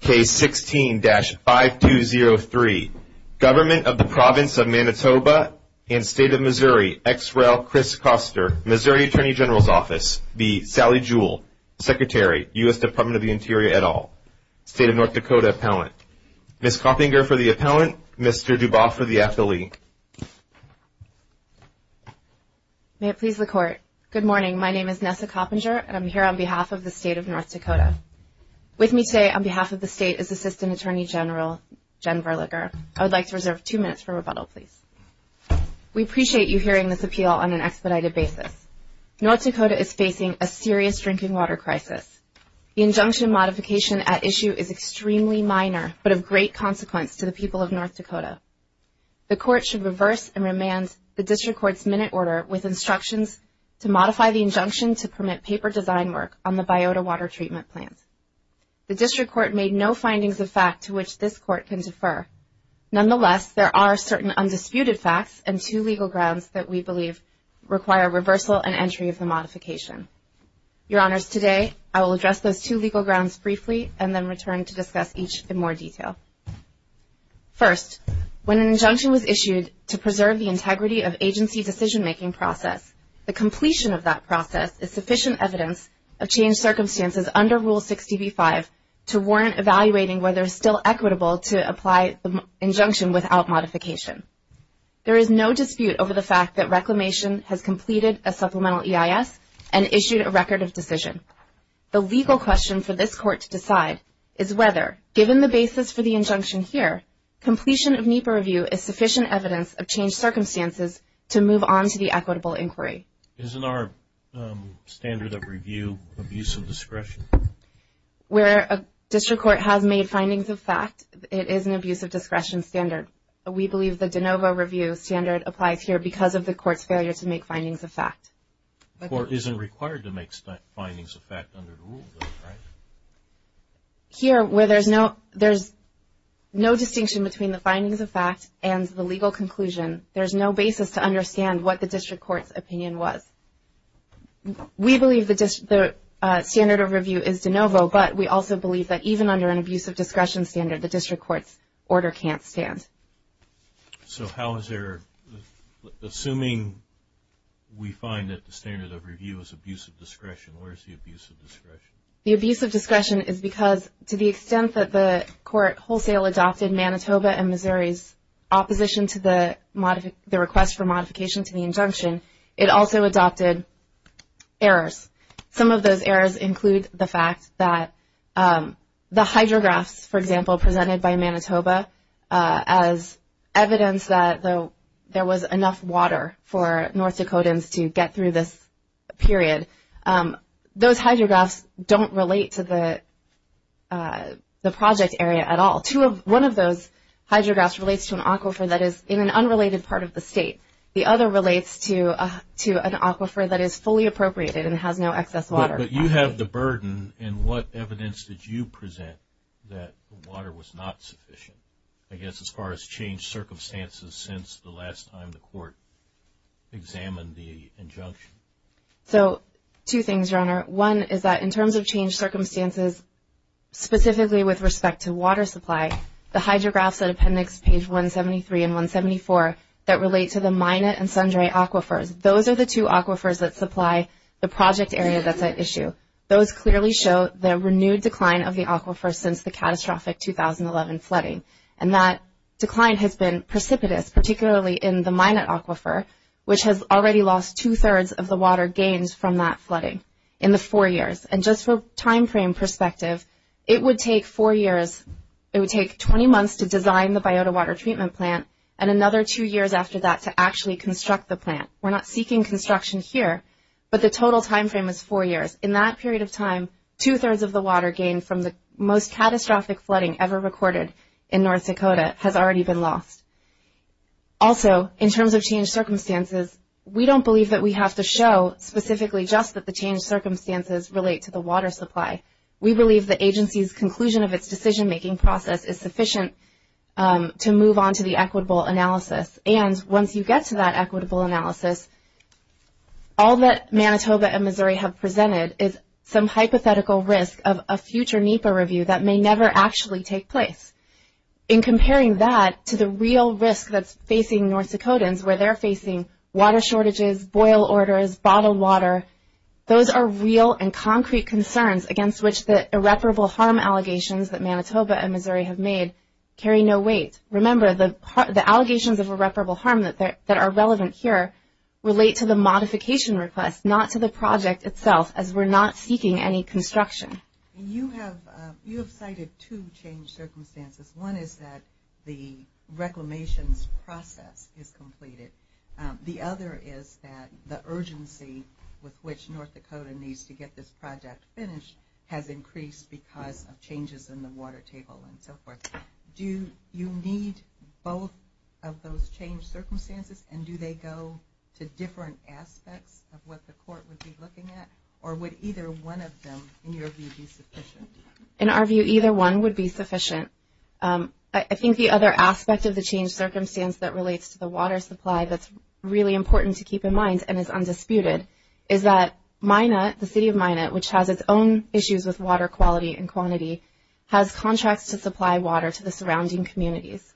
Case 16-5203 Government of the Province of Manitoba and State of Missouri X. Rel. Chris Koster, Missouri Attorney General's Office v. Sally Jewell, Secretary, U.S. Department of the Interior et al., State of North Dakota Appellant Ms. Coppinger for the Appellant, Mr. DuBois for the Affiliate May it please the Court Good morning, my name is Nessa Coppinger and I'm here on behalf of the State of North Dakota With me today on behalf of the State is Assistant Attorney General Jen Verlager I would like to reserve two minutes for rebuttal, please We appreciate you hearing this appeal on an expedited basis North Dakota is facing a serious drinking water crisis The injunction modification at issue is extremely minor but of great consequence to the people of North Dakota The Court should reverse and remand the District Court's minute order with instructions to modify the injunction to permit paper design work on the biota water treatment plant The District Court made no findings of fact to which this Court can defer Nonetheless, there are certain undisputed facts and two legal grounds that we believe require reversal and entry of the modification Your Honors, today I will address those two legal grounds briefly and then return to discuss each in more detail First, when an injunction was issued to preserve the integrity of agency decision-making process the completion of that process is sufficient evidence of changed circumstances under Rule 60b-5 to warrant evaluating whether it is still equitable to apply the injunction without modification There is no dispute over the fact that Reclamation has completed a supplemental EIS and issued a record of decision The legal question for this Court to decide is whether, given the basis for the injunction here completion of NEPA review is sufficient evidence of changed circumstances to move on to the equitable inquiry Isn't our standard of review abuse of discretion? Where a District Court has made findings of fact it is an abuse of discretion standard We believe the de novo review standard applies here because of the Court's failure to make findings of fact The Court isn't required to make findings of fact under the Rule, right? Here, where there is no distinction between the findings of fact and the legal conclusion there is no basis to understand what the District Court's opinion was We believe the standard of review is de novo but we also believe that even under an abuse of discretion standard the District Court's order can't stand Assuming we find that the standard of review is abuse of discretion where is the abuse of discretion? The abuse of discretion is because to the extent that the Court wholesale adopted Manitoba and Missouri's opposition to the request for modification to the injunction it also adopted errors Some of those errors include the fact that the hydrographs, for example, presented by Manitoba as evidence that there was enough water for North Dakotans to get through this period Those hydrographs don't relate to the project area at all One of those hydrographs relates to an aquifer that is in an unrelated part of the state The other relates to an aquifer that is fully appropriated and has no excess water But you have the burden and what evidence did you present that the water was not sufficient? I guess as far as changed circumstances since the last time the Court examined the injunction So, two things, Your Honor One is that in terms of changed circumstances specifically with respect to water supply the hydrographs at appendix page 173 and 174 that relate to the Manit and Sundre aquifers Those are the two aquifers that supply the project area that's at issue Those clearly show the renewed decline of the aquifer since the catastrophic 2011 flooding And that decline has been precipitous, particularly in the Minot aquifer which has already lost two-thirds of the water gained from that flooding in the four years And just for time frame perspective it would take four years it would take 20 months to design the biota water treatment plant and another two years after that to actually construct the plant We're not seeking construction here But the total time frame is four years In that period of time two-thirds of the water gained from the most catastrophic flooding ever recorded in North Dakota has already been lost Also, in terms of changed circumstances we don't believe that we have to show specifically just that the changed circumstances relate to the water supply We believe the agency's conclusion of its decision-making process is sufficient to move on to the equitable analysis And once you get to that equitable analysis all that Manitoba and Missouri have presented is some hypothetical risk of a future NEPA review that may never actually take place In comparing that to the real risk that's facing North Dakotans where they're facing water shortages, boil orders, bottled water those are real and concrete concerns against which the irreparable harm allegations that Manitoba and Missouri have made carry no weight Remember, the allegations of irreparable harm that are relevant here relate to the modification request not to the project itself as we're not seeking any construction You have cited two changed circumstances One is that the reclamations process is completed The other is that the urgency with which North Dakota needs to get this project finished has increased because of changes in the water table and so forth Do you need both of those changed circumstances and do they go to different aspects of what the court would be looking at or would either one of them, in your view, be sufficient? In our view, either one would be sufficient I think the other aspect of the changed circumstance that relates to the water supply that's really important to keep in mind and is undisputed is that Minot, the city of Minot which has its own issues with water quality and quantity has contracts to supply water to the surrounding communities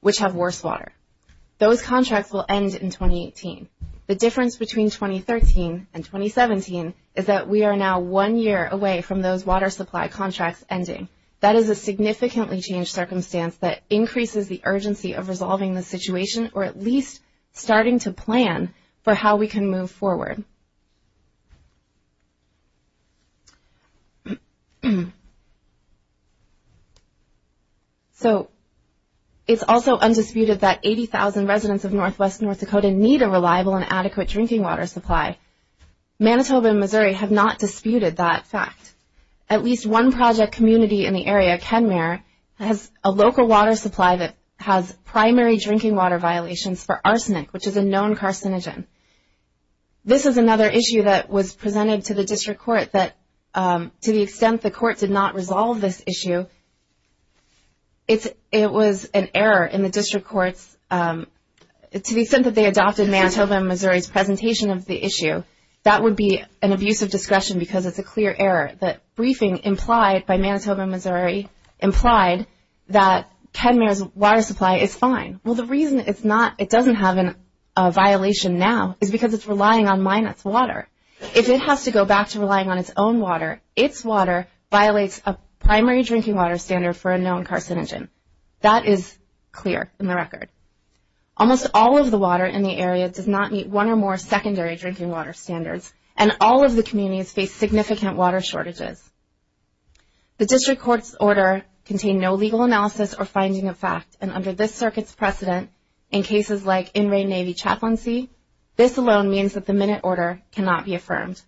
which have worse water Those contracts will end in 2018 The difference between 2013 and 2017 is that we are now one year away from those water supply contracts ending That is a significantly changed circumstance that increases the urgency of resolving the situation or at least starting to plan for how we can move forward So, it's also undisputed that 80,000 residents of northwest North Dakota need a reliable and adequate drinking water supply Manitoba and Missouri have not disputed that fact At least one project community in the area, Kenmare has a local water supply that has primary drinking water violations for arsenic which is a known carcinogen This is another issue that was presented to the district court that to the extent the court did not resolve this issue it was an error in the district court's to the extent that they adopted Manitoba and Missouri's presentation of the issue that would be an abuse of discretion because it's a clear error that briefing implied by Manitoba and Missouri implied that Kenmare's water supply is fine Well, the reason it doesn't have a violation now is because it's relying on Minot's water If it has to go back to relying on its own water its water violates a primary drinking water standard for a known carcinogen That is clear in the record Almost all of the water in the area does not meet one or more secondary drinking water standards and all of the communities face significant water shortages The district court's order contained no legal analysis or finding of fact and under this circuit's precedent in cases like In Re Navy Chaplaincy this alone means that the Minot order cannot be affirmed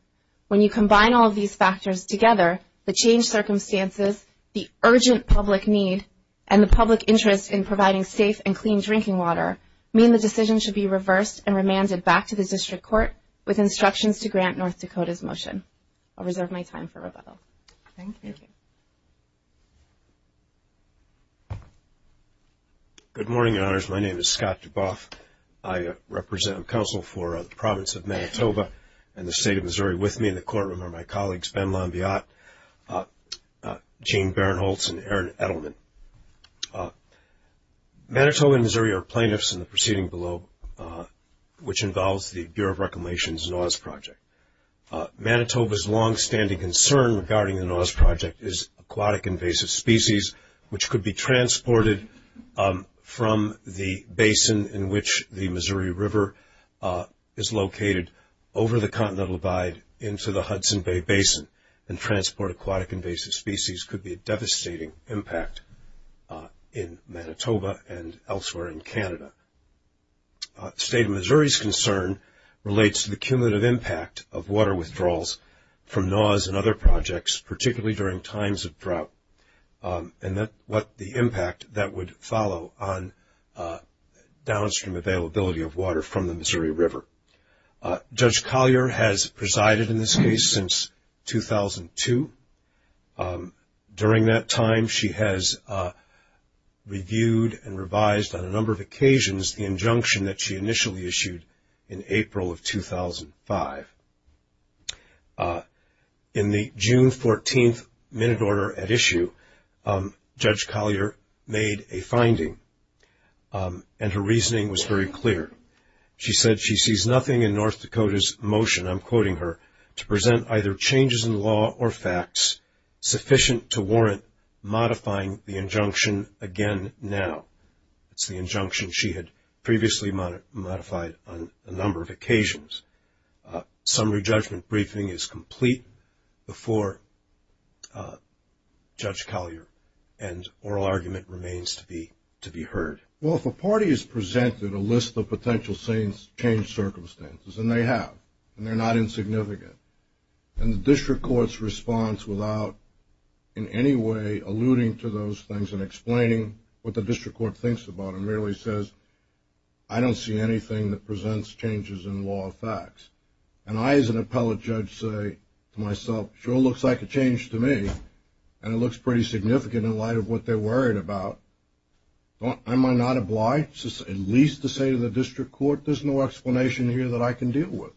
When you combine all of these factors together the changed circumstances, the urgent public need and the public interest in providing safe and clean drinking water mean the decision should be reversed and remanded back to the district court with instructions to grant North Dakota's motion I'll reserve my time for rebuttal Thank you Good morning, Your Honors My name is Scott Duboff I represent and counsel for the province of Manitoba and the state of Missouri With me in the courtroom are my colleagues Ben Lombiat, Gene Barinholtz and Aaron Edelman Manitoba and Missouri are plaintiffs in the proceeding below which involves the Bureau of Reclamation's NOAA's project Manitoba's long-standing concern regarding the NOAA's project is aquatic invasive species which could be transported from the basin in which the Missouri River is located over the continental abide into the Hudson Bay Basin and transport aquatic invasive species could be a devastating impact in Manitoba and elsewhere in Canada The state of Missouri's concern relates to the cumulative impact of water withdrawals from NOAA's and other projects particularly during times of drought and the impact that would follow on downstream availability of water from the Missouri River Judge Collier has presided in this case since 2002 During that time she has reviewed and revised on a number of occasions the injunction that she initially issued in April of 2005 In the June 14th minute order at issue Judge Collier made a finding and her reasoning was very clear She said she sees nothing in North Dakota's motion I'm quoting her to present either changes in law or facts sufficient to warrant modifying the injunction again now It's the injunction she had previously modified on a number of occasions Summary judgment briefing is complete before Judge Collier and oral argument remains to be heard Well if a party is presented a list of potential change circumstances and they have and they're not insignificant and the district court's response without in any way alluding to those things and explaining what the district court thinks about it merely says I don't see anything that presents changes in law or facts and I as an appellate judge say to myself sure looks like a change to me and it looks pretty significant in light of what they're worried about am I not obliged at least to say to the district court there's no explanation here that I can deal with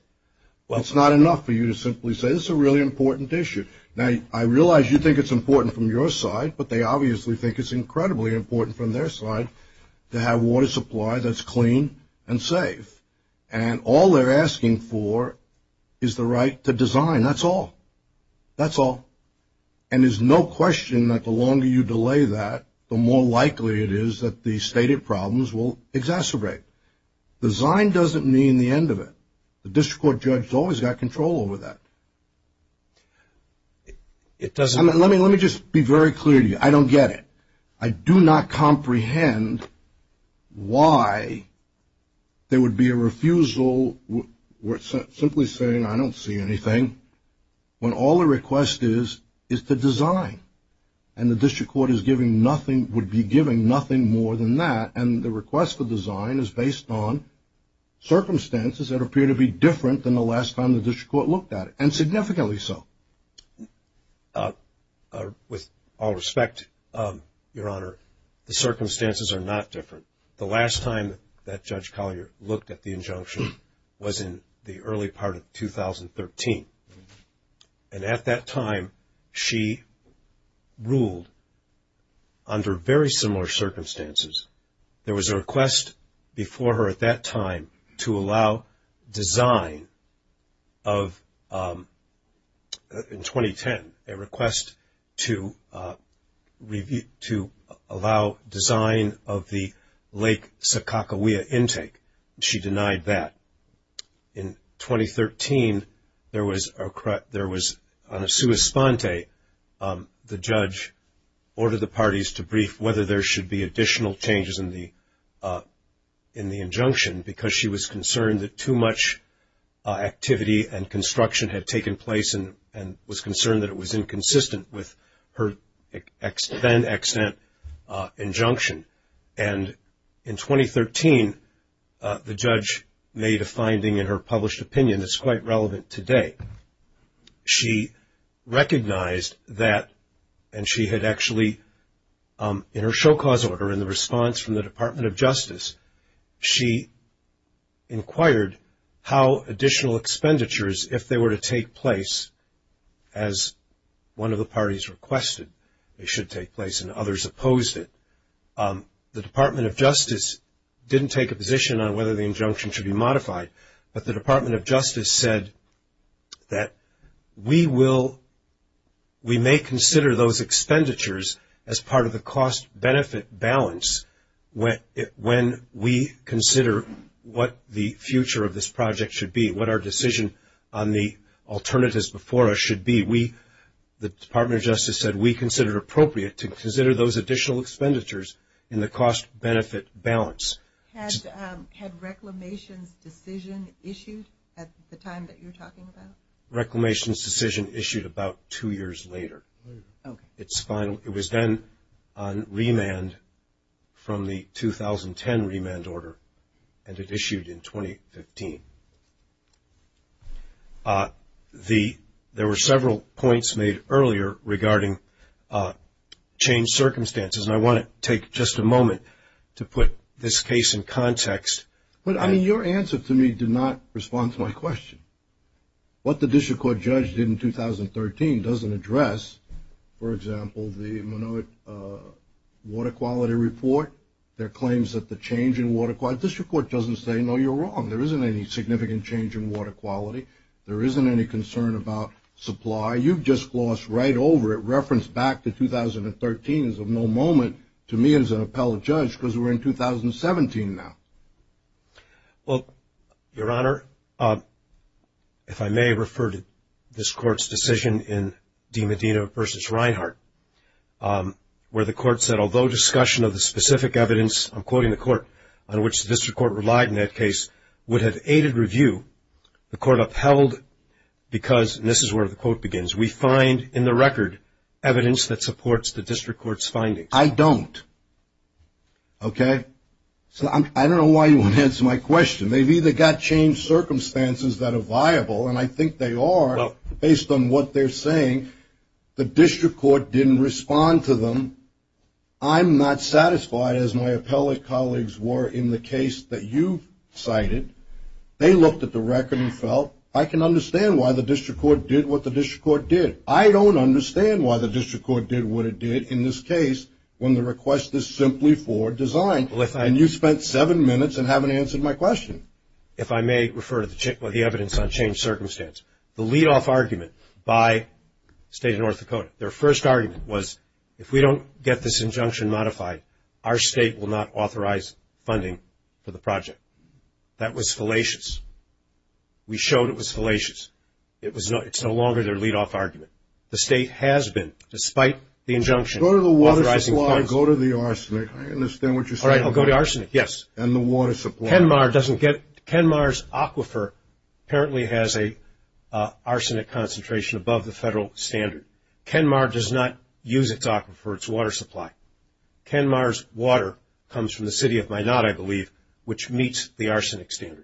Well it's not enough for you to simply say this is a really important issue Now I realize you think it's important from your side but they obviously think it's incredibly important from their side to have water supply that's clean and safe and all they're asking for is the right to design that's all that's all and there's no question that the longer you delay that the more likely it is that the stated problems will exacerbate design doesn't mean the end of it the district court judge has always got control over that It doesn't Let me just be very clear to you I don't get it I do not comprehend why there would be a refusal simply saying I don't see anything when all the request is is to design and the district court is giving nothing would be giving nothing more than that and the request for design is based on circumstances that appear to be different than the last time the district court looked at it and significantly so With all respect, Your Honor the circumstances are not different The last time that Judge Collier looked at the injunction was in the early part of 2013 and at that time she ruled under very similar circumstances there was a request before her at that time to allow design of in 2010 a request to allow design of the Lake Sakakawea intake She denied that In 2013 there was on a sua sponte the judge ordered the parties to brief whether there should be additional changes in the in the injunction because she was concerned that too much activity and construction had taken place and was concerned that it was inconsistent with her then extant injunction and in 2013 the judge made a finding in her published opinion that's quite relevant today She recognized that and she had actually in her show cause order in the response from the Department of Justice she inquired how additional expenditures if they were to take place as one of the parties requested it should take place and others opposed it The Department of Justice didn't take a position on whether the injunction should be modified but the Department of Justice said that we will we may consider those expenditures as part of the cost-benefit balance when we consider what the future of this project should be what our decision on the alternatives before us should be The Department of Justice said we considered appropriate to consider those additional expenditures in the cost-benefit balance Had Reclamation's decision issued at the time that you're talking about? Reclamation's decision issued about two years later It was then on remand from the 2010 remand order and it issued in 2015 There were several points made earlier regarding changed circumstances and I want to take just a moment to put this case in context Your answer to me did not respond to my question What the district court judge did in 2013 doesn't address, for example the Minowet water quality report their claims that the change in water quality the district court doesn't say no you're wrong there isn't any significant change in water quality there isn't any concern about supply you've just glossed right over it referenced back to 2013 as of no moment to me as an appellate judge because we're in 2017 now Well, your honor if I may refer to this court's decision in DiMedina v. Reinhart where the court said although discussion of the specific evidence I'm quoting the court, on which the district court relied in that case would have aided review the court upheld because, and this is where the quote begins we find in the record evidence that supports the district court's findings I don't I don't know why you want to answer my question they've either got changed circumstances that are viable and I think they are based on what they're saying the district court didn't respond to them I'm not satisfied as my appellate colleagues were in the case that you cited they looked at the record and felt I can understand why the district court did what the district court did I don't understand why the district court did what it did in this case when the request is simply for design and you spent seven minutes and haven't answered my question if I may refer to the evidence on changed circumstance the lead off argument by the state of North Dakota their first argument was if we don't get this injunction modified our state will not authorize funding for the project that was fallacious we showed it was fallacious it's no longer their lead off argument the state has been despite the injunction Kenmar doesn't get Kenmar's aquifer apparently has a arsenic concentration above the federal standard Kenmar does not use its aquifer its water supply Kenmar's water comes from the city of Minot I believe which meets the arsenic standard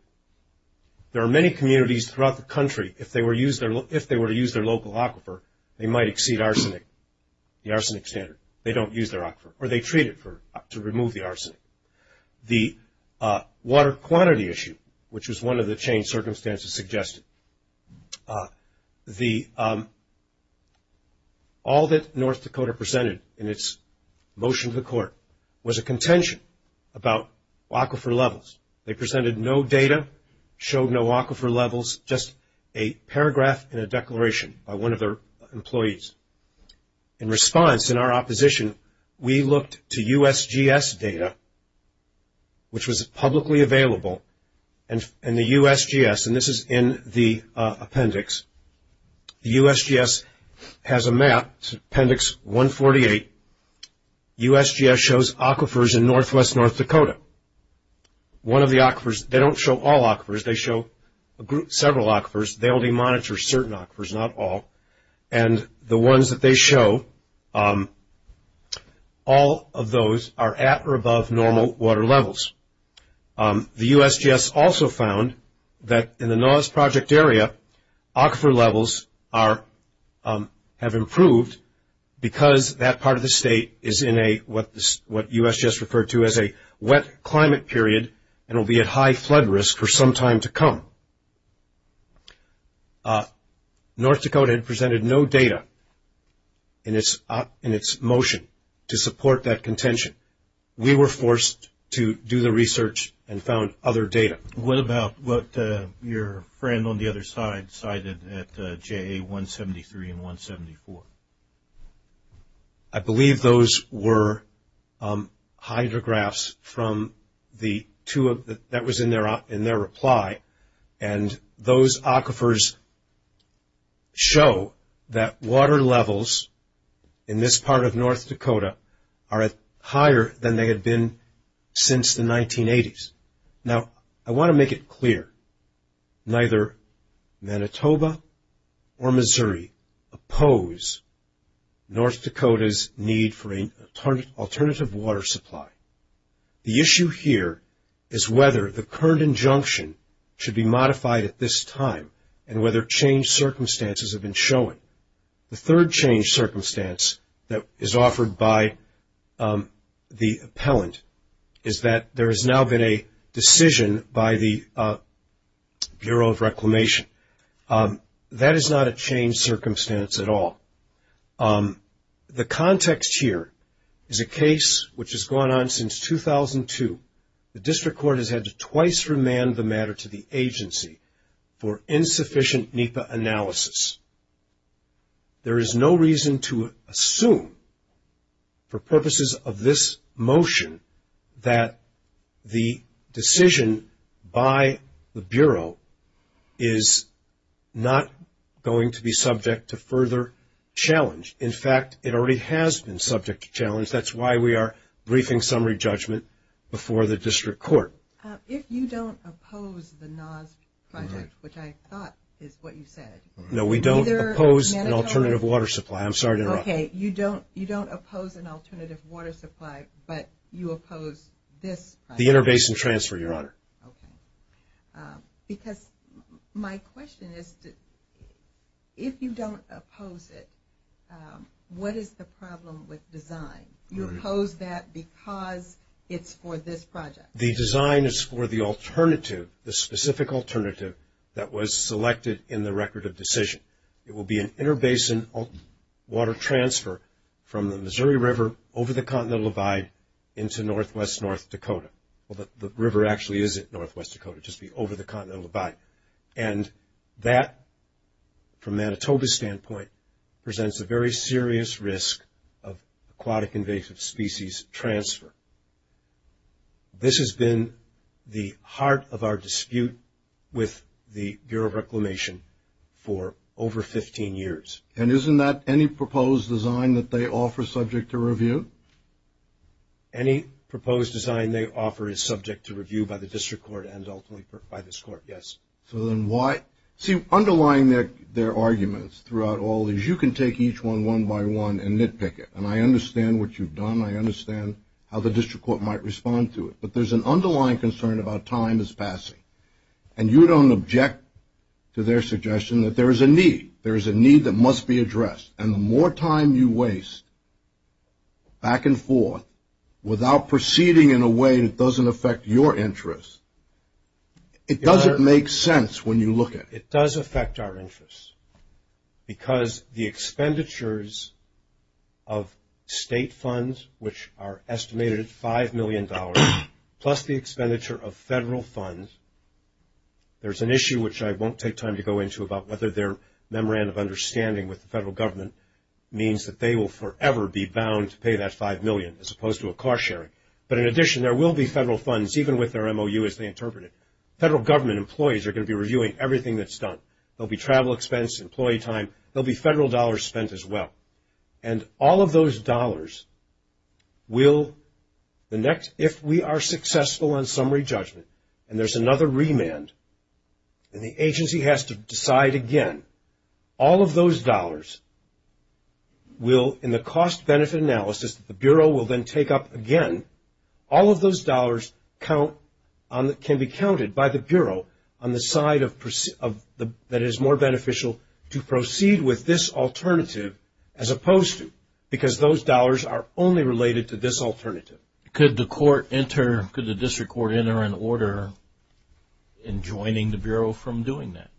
there are many communities throughout the country if they were to use their local aquifer they might exceed the arsenic standard they don't use their aquifer or they treat it to remove the arsenic the water quantity issue which was one of the changed circumstances suggested all that North Dakota presented in its motion to the court was a contention about aquifer levels they presented no data, showed no aquifer levels just a paragraph and a declaration by one of their employees in response in our opposition we looked to USGS data which was publicly available in the USGS and this is in the appendix the USGS has a map appendix 148 USGS shows aquifers in northwest North Dakota they don't show all aquifers they show several aquifers they only monitor certain aquifers, not all and the ones that they show all of those are at or above normal water levels the USGS also found that in the Noah's Project area aquifer levels have improved because that part of the state is in what USGS referred to as a wet climate period and will be at high flood risk for some time to come North Dakota presented no data in its motion to support that contention we were forced to do the research and found other data What about what your friend on the other side cited at JA 173 and 174 I believe those were hydrographs that was in their reply and those aquifers show that water levels in this part of North Dakota are higher than they had been since the 1980s I want to make it clear neither Manitoba or Missouri oppose North Dakota's need for an alternative water supply the issue here is whether the current injunction should be modified at this time and whether change circumstances have been shown the third change circumstance that is offered by the appellant is that there has now been a decision by the Bureau of Reclamation that is not a change circumstance at all the context here is a case which has gone on since 2002 the district court has had to twice remand the matter to the agency for insufficient NEPA analysis there is no reason to assume for purposes of this motion that the decision by the Bureau is not going to be subject to further challenge in fact it already has been subject to challenge that's why we are briefing summary judgment before the district court if you don't oppose the NAS project which I thought is what you said no we don't oppose an alternative water supply you don't oppose an alternative water supply but you oppose this project the inter-basin transfer because my question is if you don't oppose it what is the problem with design you oppose that because it's for this project the design is for the alternative the specific alternative that was selected in the record of decision it will be an inter-basin water transfer from the Missouri River over the Continental Divide into Northwest North Dakota the river actually isn't Northwest Dakota just over the Continental Divide and that from Manitoba's standpoint presents a very serious risk of aquatic invasive species transfer this has been the heart of our dispute with the Bureau of Reclamation for over 15 years and isn't that any proposed design any proposed design they offer is subject to review by the district court and ultimately by this court underlying their arguments is you can take each one one by one and nitpick it and I understand what you've done I understand how the district court might respond to it but there's an underlying concern about time as passing and you don't object to their suggestion and the more time you waste back and forth without proceeding in a way that doesn't affect your interests it doesn't make sense when you look at it it does affect our interests because the expenditures of state funds which are estimated at $5 million plus the expenditure of federal funds there's an issue which I won't take time to go into about whether their memorandum of understanding with the federal government means that they will forever be bound to pay that $5 million as opposed to a cost sharing but in addition there will be federal funds even with their MOU as they interpret it federal government employees are going to be reviewing everything that's done there will be travel expense, employee time there will be federal dollars spent as well and all of those dollars if we are successful on summary judgment and there's another remand and the agency has to decide again all of those dollars will in the cost benefit analysis the Bureau will then take up again all of those dollars can be counted by the Bureau on the side that is more beneficial to proceed with this alternative as opposed to because those dollars are only related to this alternative Could the District Court enter an order in joining the Bureau from doing that?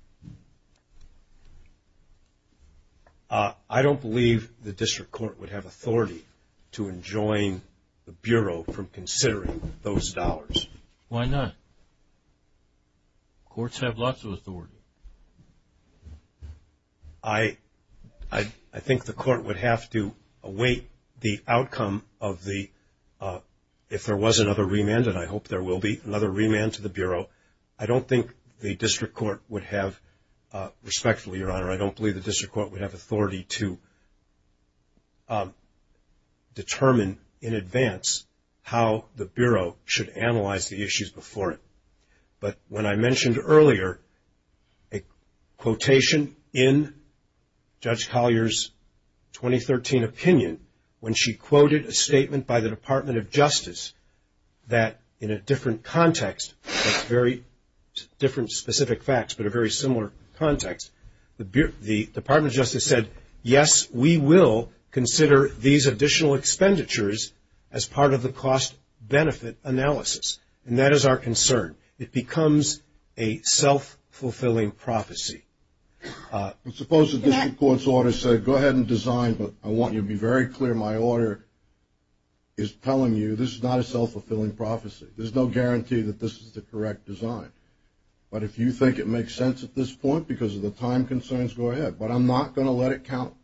I don't believe the District Court would have authority to enjoin the Bureau from considering those dollars Why not? Courts have lots of authority I think the Court would have to await the outcome if there was another remand and I hope there will be another remand to the Bureau I don't think the District Court would have authority to determine in advance how the Bureau should analyze the issues before it but when I mentioned earlier a quotation in Judge Collier's 2013 opinion when she quoted a statement by the Department of Justice that in a different context very different specific facts but a very similar context the Department of Justice said yes we will consider these additional expenditures as part of the cost benefit analysis and that is our concern it becomes a self-fulfilling prophecy suppose the District Court's order said go ahead and design but I want you to be very clear my order is telling you this is not a self-fulfilling prophecy there is no guarantee that this is the correct design but if you think it makes sense at this point because of the time concerns go ahead but I'm not going to let it count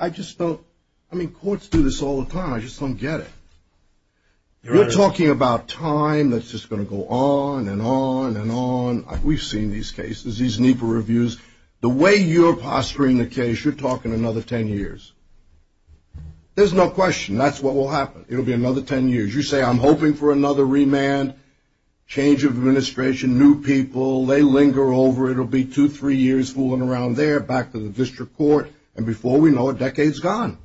I just don't I mean courts do this all the time I just don't get it you're talking about time that's just going to go on and on and on we've seen these cases these NEPA reviews the way you're posturing the case you're talking another 10 years there's no question that's what will happen it will be another 10 years you say I'm hoping for another remand change of administration new people they linger over it will be two three years fooling around there back to the District Court and before we know it a decade's gone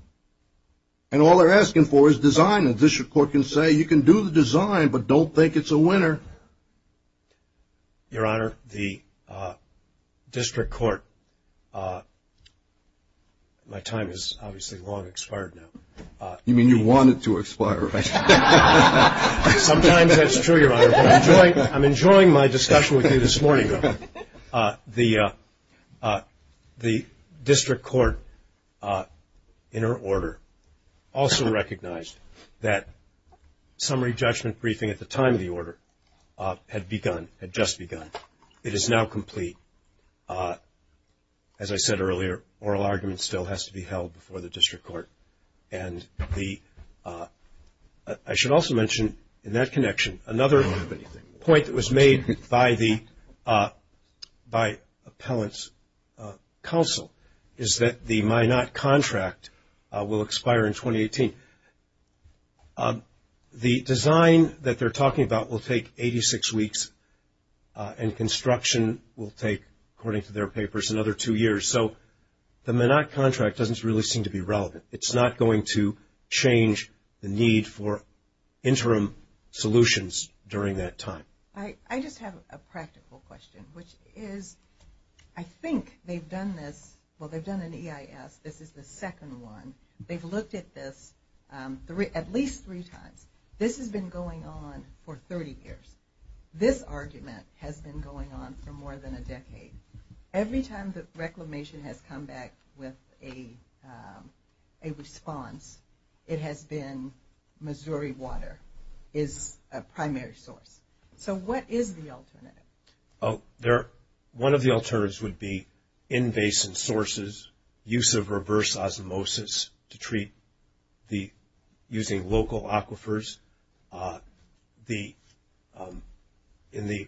and all they're asking for is design the District Court can say you can do the design but don't think it's a winner your honor the District Court my time is obviously long expired now you mean you want it to expire right sometimes that's true your honor but I'm enjoying my discussion with you this morning the District Court in her order also recognized that summary judgment briefing at the time of the order had begun had just begun it is now complete as I said earlier oral argument still has to be held before the District Court and the I should also mention in that connection another point that was made by the by appellant's counsel is that the my not contract will expire in 2018 the design that they're talking about will take 86 weeks and construction will take according to their papers another two years so the minute contract doesn't really seem to be relevant it's not going to change the need for interim solutions during that time I just have a practical question which is I think they've done this well they've done an EIS this is the second one they've looked at this at least three times this has been going on for 30 years this argument has been going on for more than a decade every time the reclamation has come back with a response it has been Missouri water is a primary source so what is the alternative? One of the alternatives would be in basin sources use of reverse osmosis to treat using local aquifers in the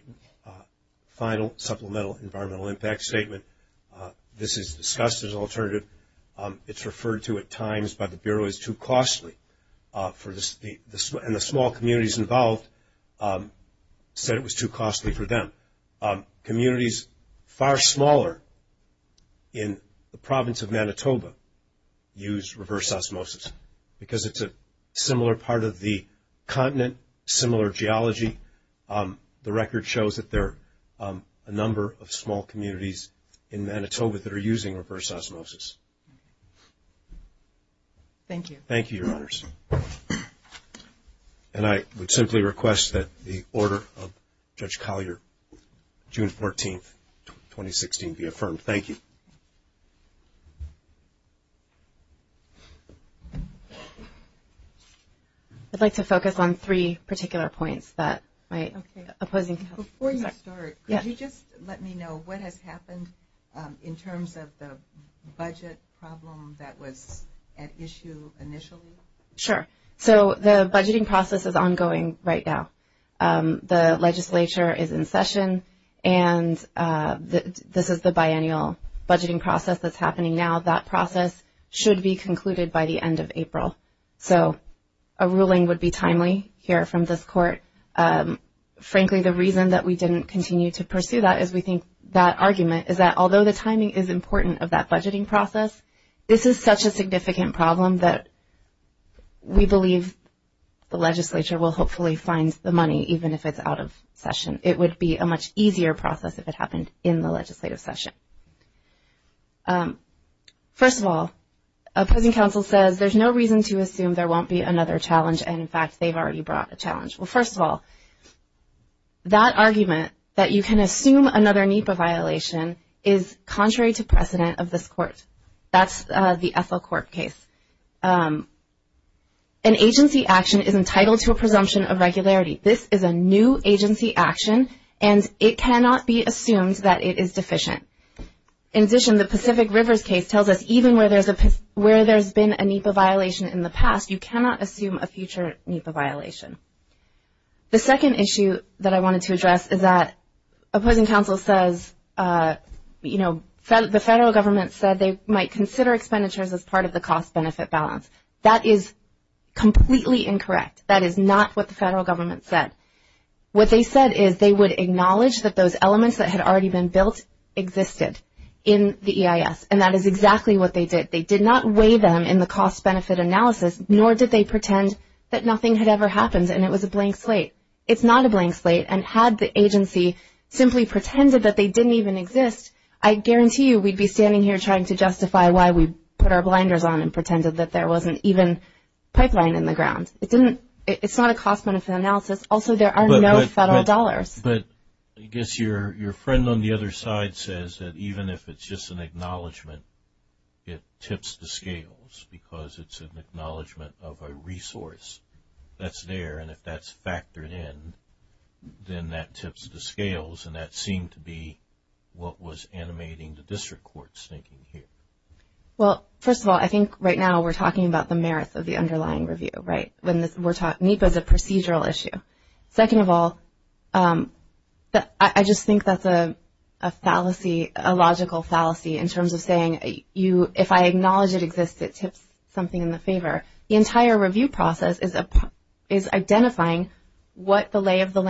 final supplemental environmental impact statement this is discussed as an alternative it's referred to at times by the Bureau as too costly and the small communities involved said it was too costly for them communities far smaller in the province of Manitoba use reverse osmosis because it's a similar part of the continent similar geology the record shows that there are a number of small communities in Manitoba that are using reverse osmosis Thank you Thank you your honors I would simply request that the order of Judge Collier June 14th 2016 be affirmed. Thank you I'd like to focus on three particular points Before you start let me know what has happened in terms of the budget problem that was at issue initially? Sure the budgeting process is ongoing right now the legislature is in session and this is the biannual budgeting process that's happening now that process should be concluded by the end of April so a ruling would be timely here from this court frankly the reason that we didn't continue to pursue that is we think that argument is that although the timing is important of that budgeting process this is such a significant problem that we believe the legislature will hopefully find the money even if it's out of session. It would be a much easier process if it happened in the legislative session First of all opposing counsel says there's no reason to assume there won't be another challenge and in fact they've already brought a challenge. Well first of all that argument that you can assume another NEPA violation is contrary to precedent of this court that's the Ethel Court case an agency action is entitled to a presumption of regularity. This is a new agency action and it cannot be assumed that it is deficient. In addition the Pacific Rivers case tells us even where there's been a NEPA violation in the past you cannot assume a future NEPA violation. The second issue that I the federal government said they might consider expenditures as part of the cost-benefit balance. That is completely incorrect. That is not what the federal government said. What they said is they would acknowledge that those elements that had already been built existed in the EIS and that is exactly what they did. They did not weigh them in the cost-benefit analysis nor did they pretend that nothing had ever happened and it was a blank slate. It's not a blank slate and had the agency simply pretended that they didn't even exist. I guarantee you we'd be standing here trying to justify why we put our blinders on and pretended that there wasn't even pipeline in the ground. It's not a cost-benefit analysis also there are no federal dollars. But I guess your friend on the other side says that even if it's just an acknowledgement it tips the scales because it's an acknowledgement of a resource that's there and if that's tipping the scales and that seemed to be what was animating the district court's thinking here. Well first of all I think right now we're talking about the merits of the underlying review. NEPA is a procedural issue. Second of all I just think that's a fallacy, a logical fallacy in terms of saying if I acknowledge it exists it tips something in the favor. The entire review process is identifying what the lay of the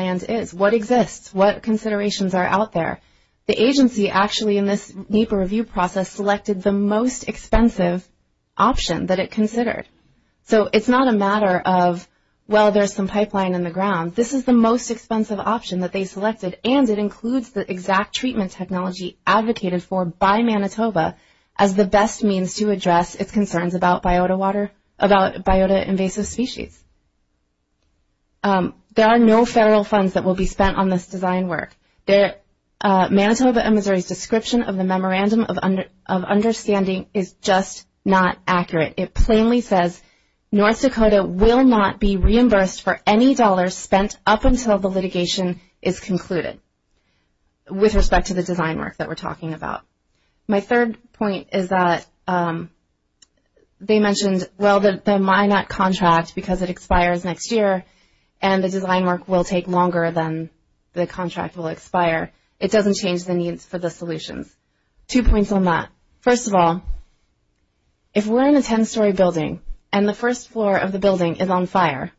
considerations are out there. The agency actually in this NEPA review process selected the most expensive option that it considered. So it's not a matter of well there's some pipeline in the ground. This is the most expensive option that they selected and it includes the exact treatment technology advocated for by Manitoba as the best means to address its concerns about biota water, about biota invasive species. There are no federal funds that will be spent on this design work. Manitoba and Missouri's description of the memorandum of understanding is just not accurate. It plainly says North Dakota will not be reimbursed for any dollars spent up until the litigation is concluded with respect to the design work that we're talking about. My third point is that they mentioned the Minot contract because it expires next year and the design work will take longer than the contract will expire. It doesn't change the needs for the solutions. Two points on that. First of all, if we're in a 10 story building and the first floor of the building is on fire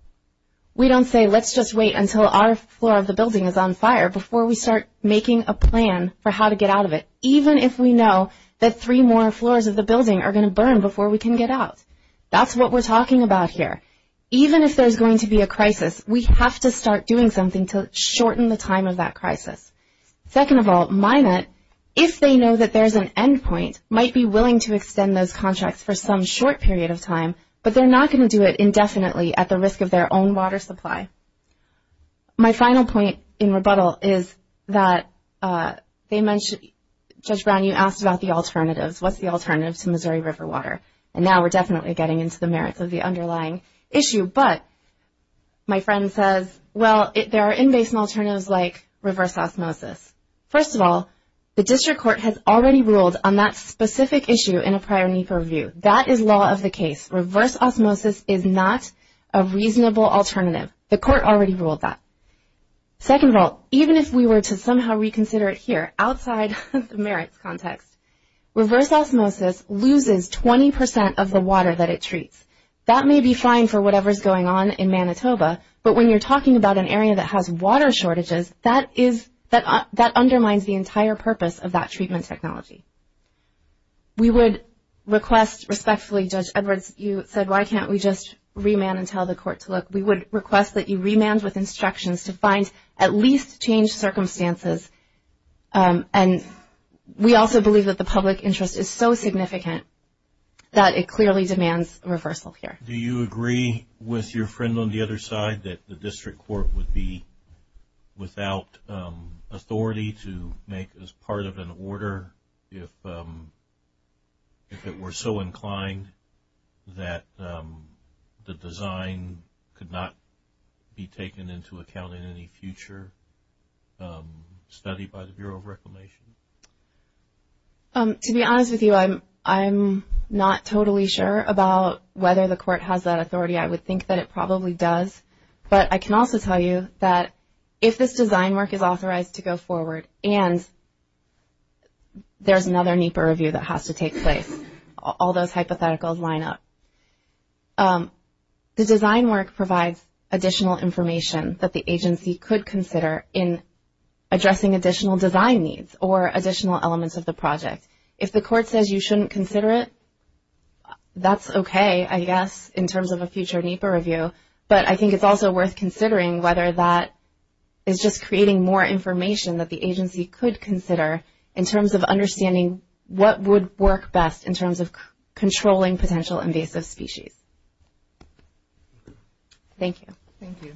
we don't say let's just wait until our floor of the building is on fire before we start making a plan for how to get out of it. Even if we know that three more floors of the building are going to burn before we can get out. That's what we're talking about here. Even if there's going to be a crisis, we have to start doing something to shorten the time of that crisis. Second of all, Minot, if they know that there's an end point, might be willing to extend those contracts for some short period of time, but they're not going to do it indefinitely at the risk of their own water supply. My final point in rebuttal is that Judge Brown, you asked about the alternatives. What's the alternative to Missouri River water? Now we're definitely getting into the merits of the underlying issue, but my friend says, well, there are in-basin alternatives like reverse osmosis. First of all, the district court has already ruled on that specific issue in a prior need for review. That is law of the case. Reverse osmosis is not a reasonable alternative. The court already ruled that. Second of all, even if we were to somehow reconsider it here, outside of the merits context, reverse osmosis loses 20% of the water that it treats. That may be fine for whatever is going on in Manitoba, but when you're talking about an area that has water shortages, that undermines the entire purpose of that treatment technology. We would request respectfully, Judge Edwards, you said why can't we just remand and find at least changed circumstances. We also believe that the public interest is so significant that it clearly demands reversal here. Do you agree with your friend on the other side that the district court would be without authority to make as part of an order if it were so inclined that the design could not be taken into account in any future study by the Bureau of Reclamation? To be honest with you, I'm not totally sure about whether the court has that authority. I would think that it probably does, but I can also tell you that if this design work is authorized to go forward and there's another NEPA review that has to take place, all those hypotheticals line up. The design work provides additional information that the agency could consider in addressing additional design needs or additional elements of the project. If the court says you shouldn't consider it, that's okay, I guess, in terms of a future NEPA review, but I think it's also worth considering whether that is just creating more information that the agency could consider in terms of understanding what would work best in terms of species. Thank you. Thank you.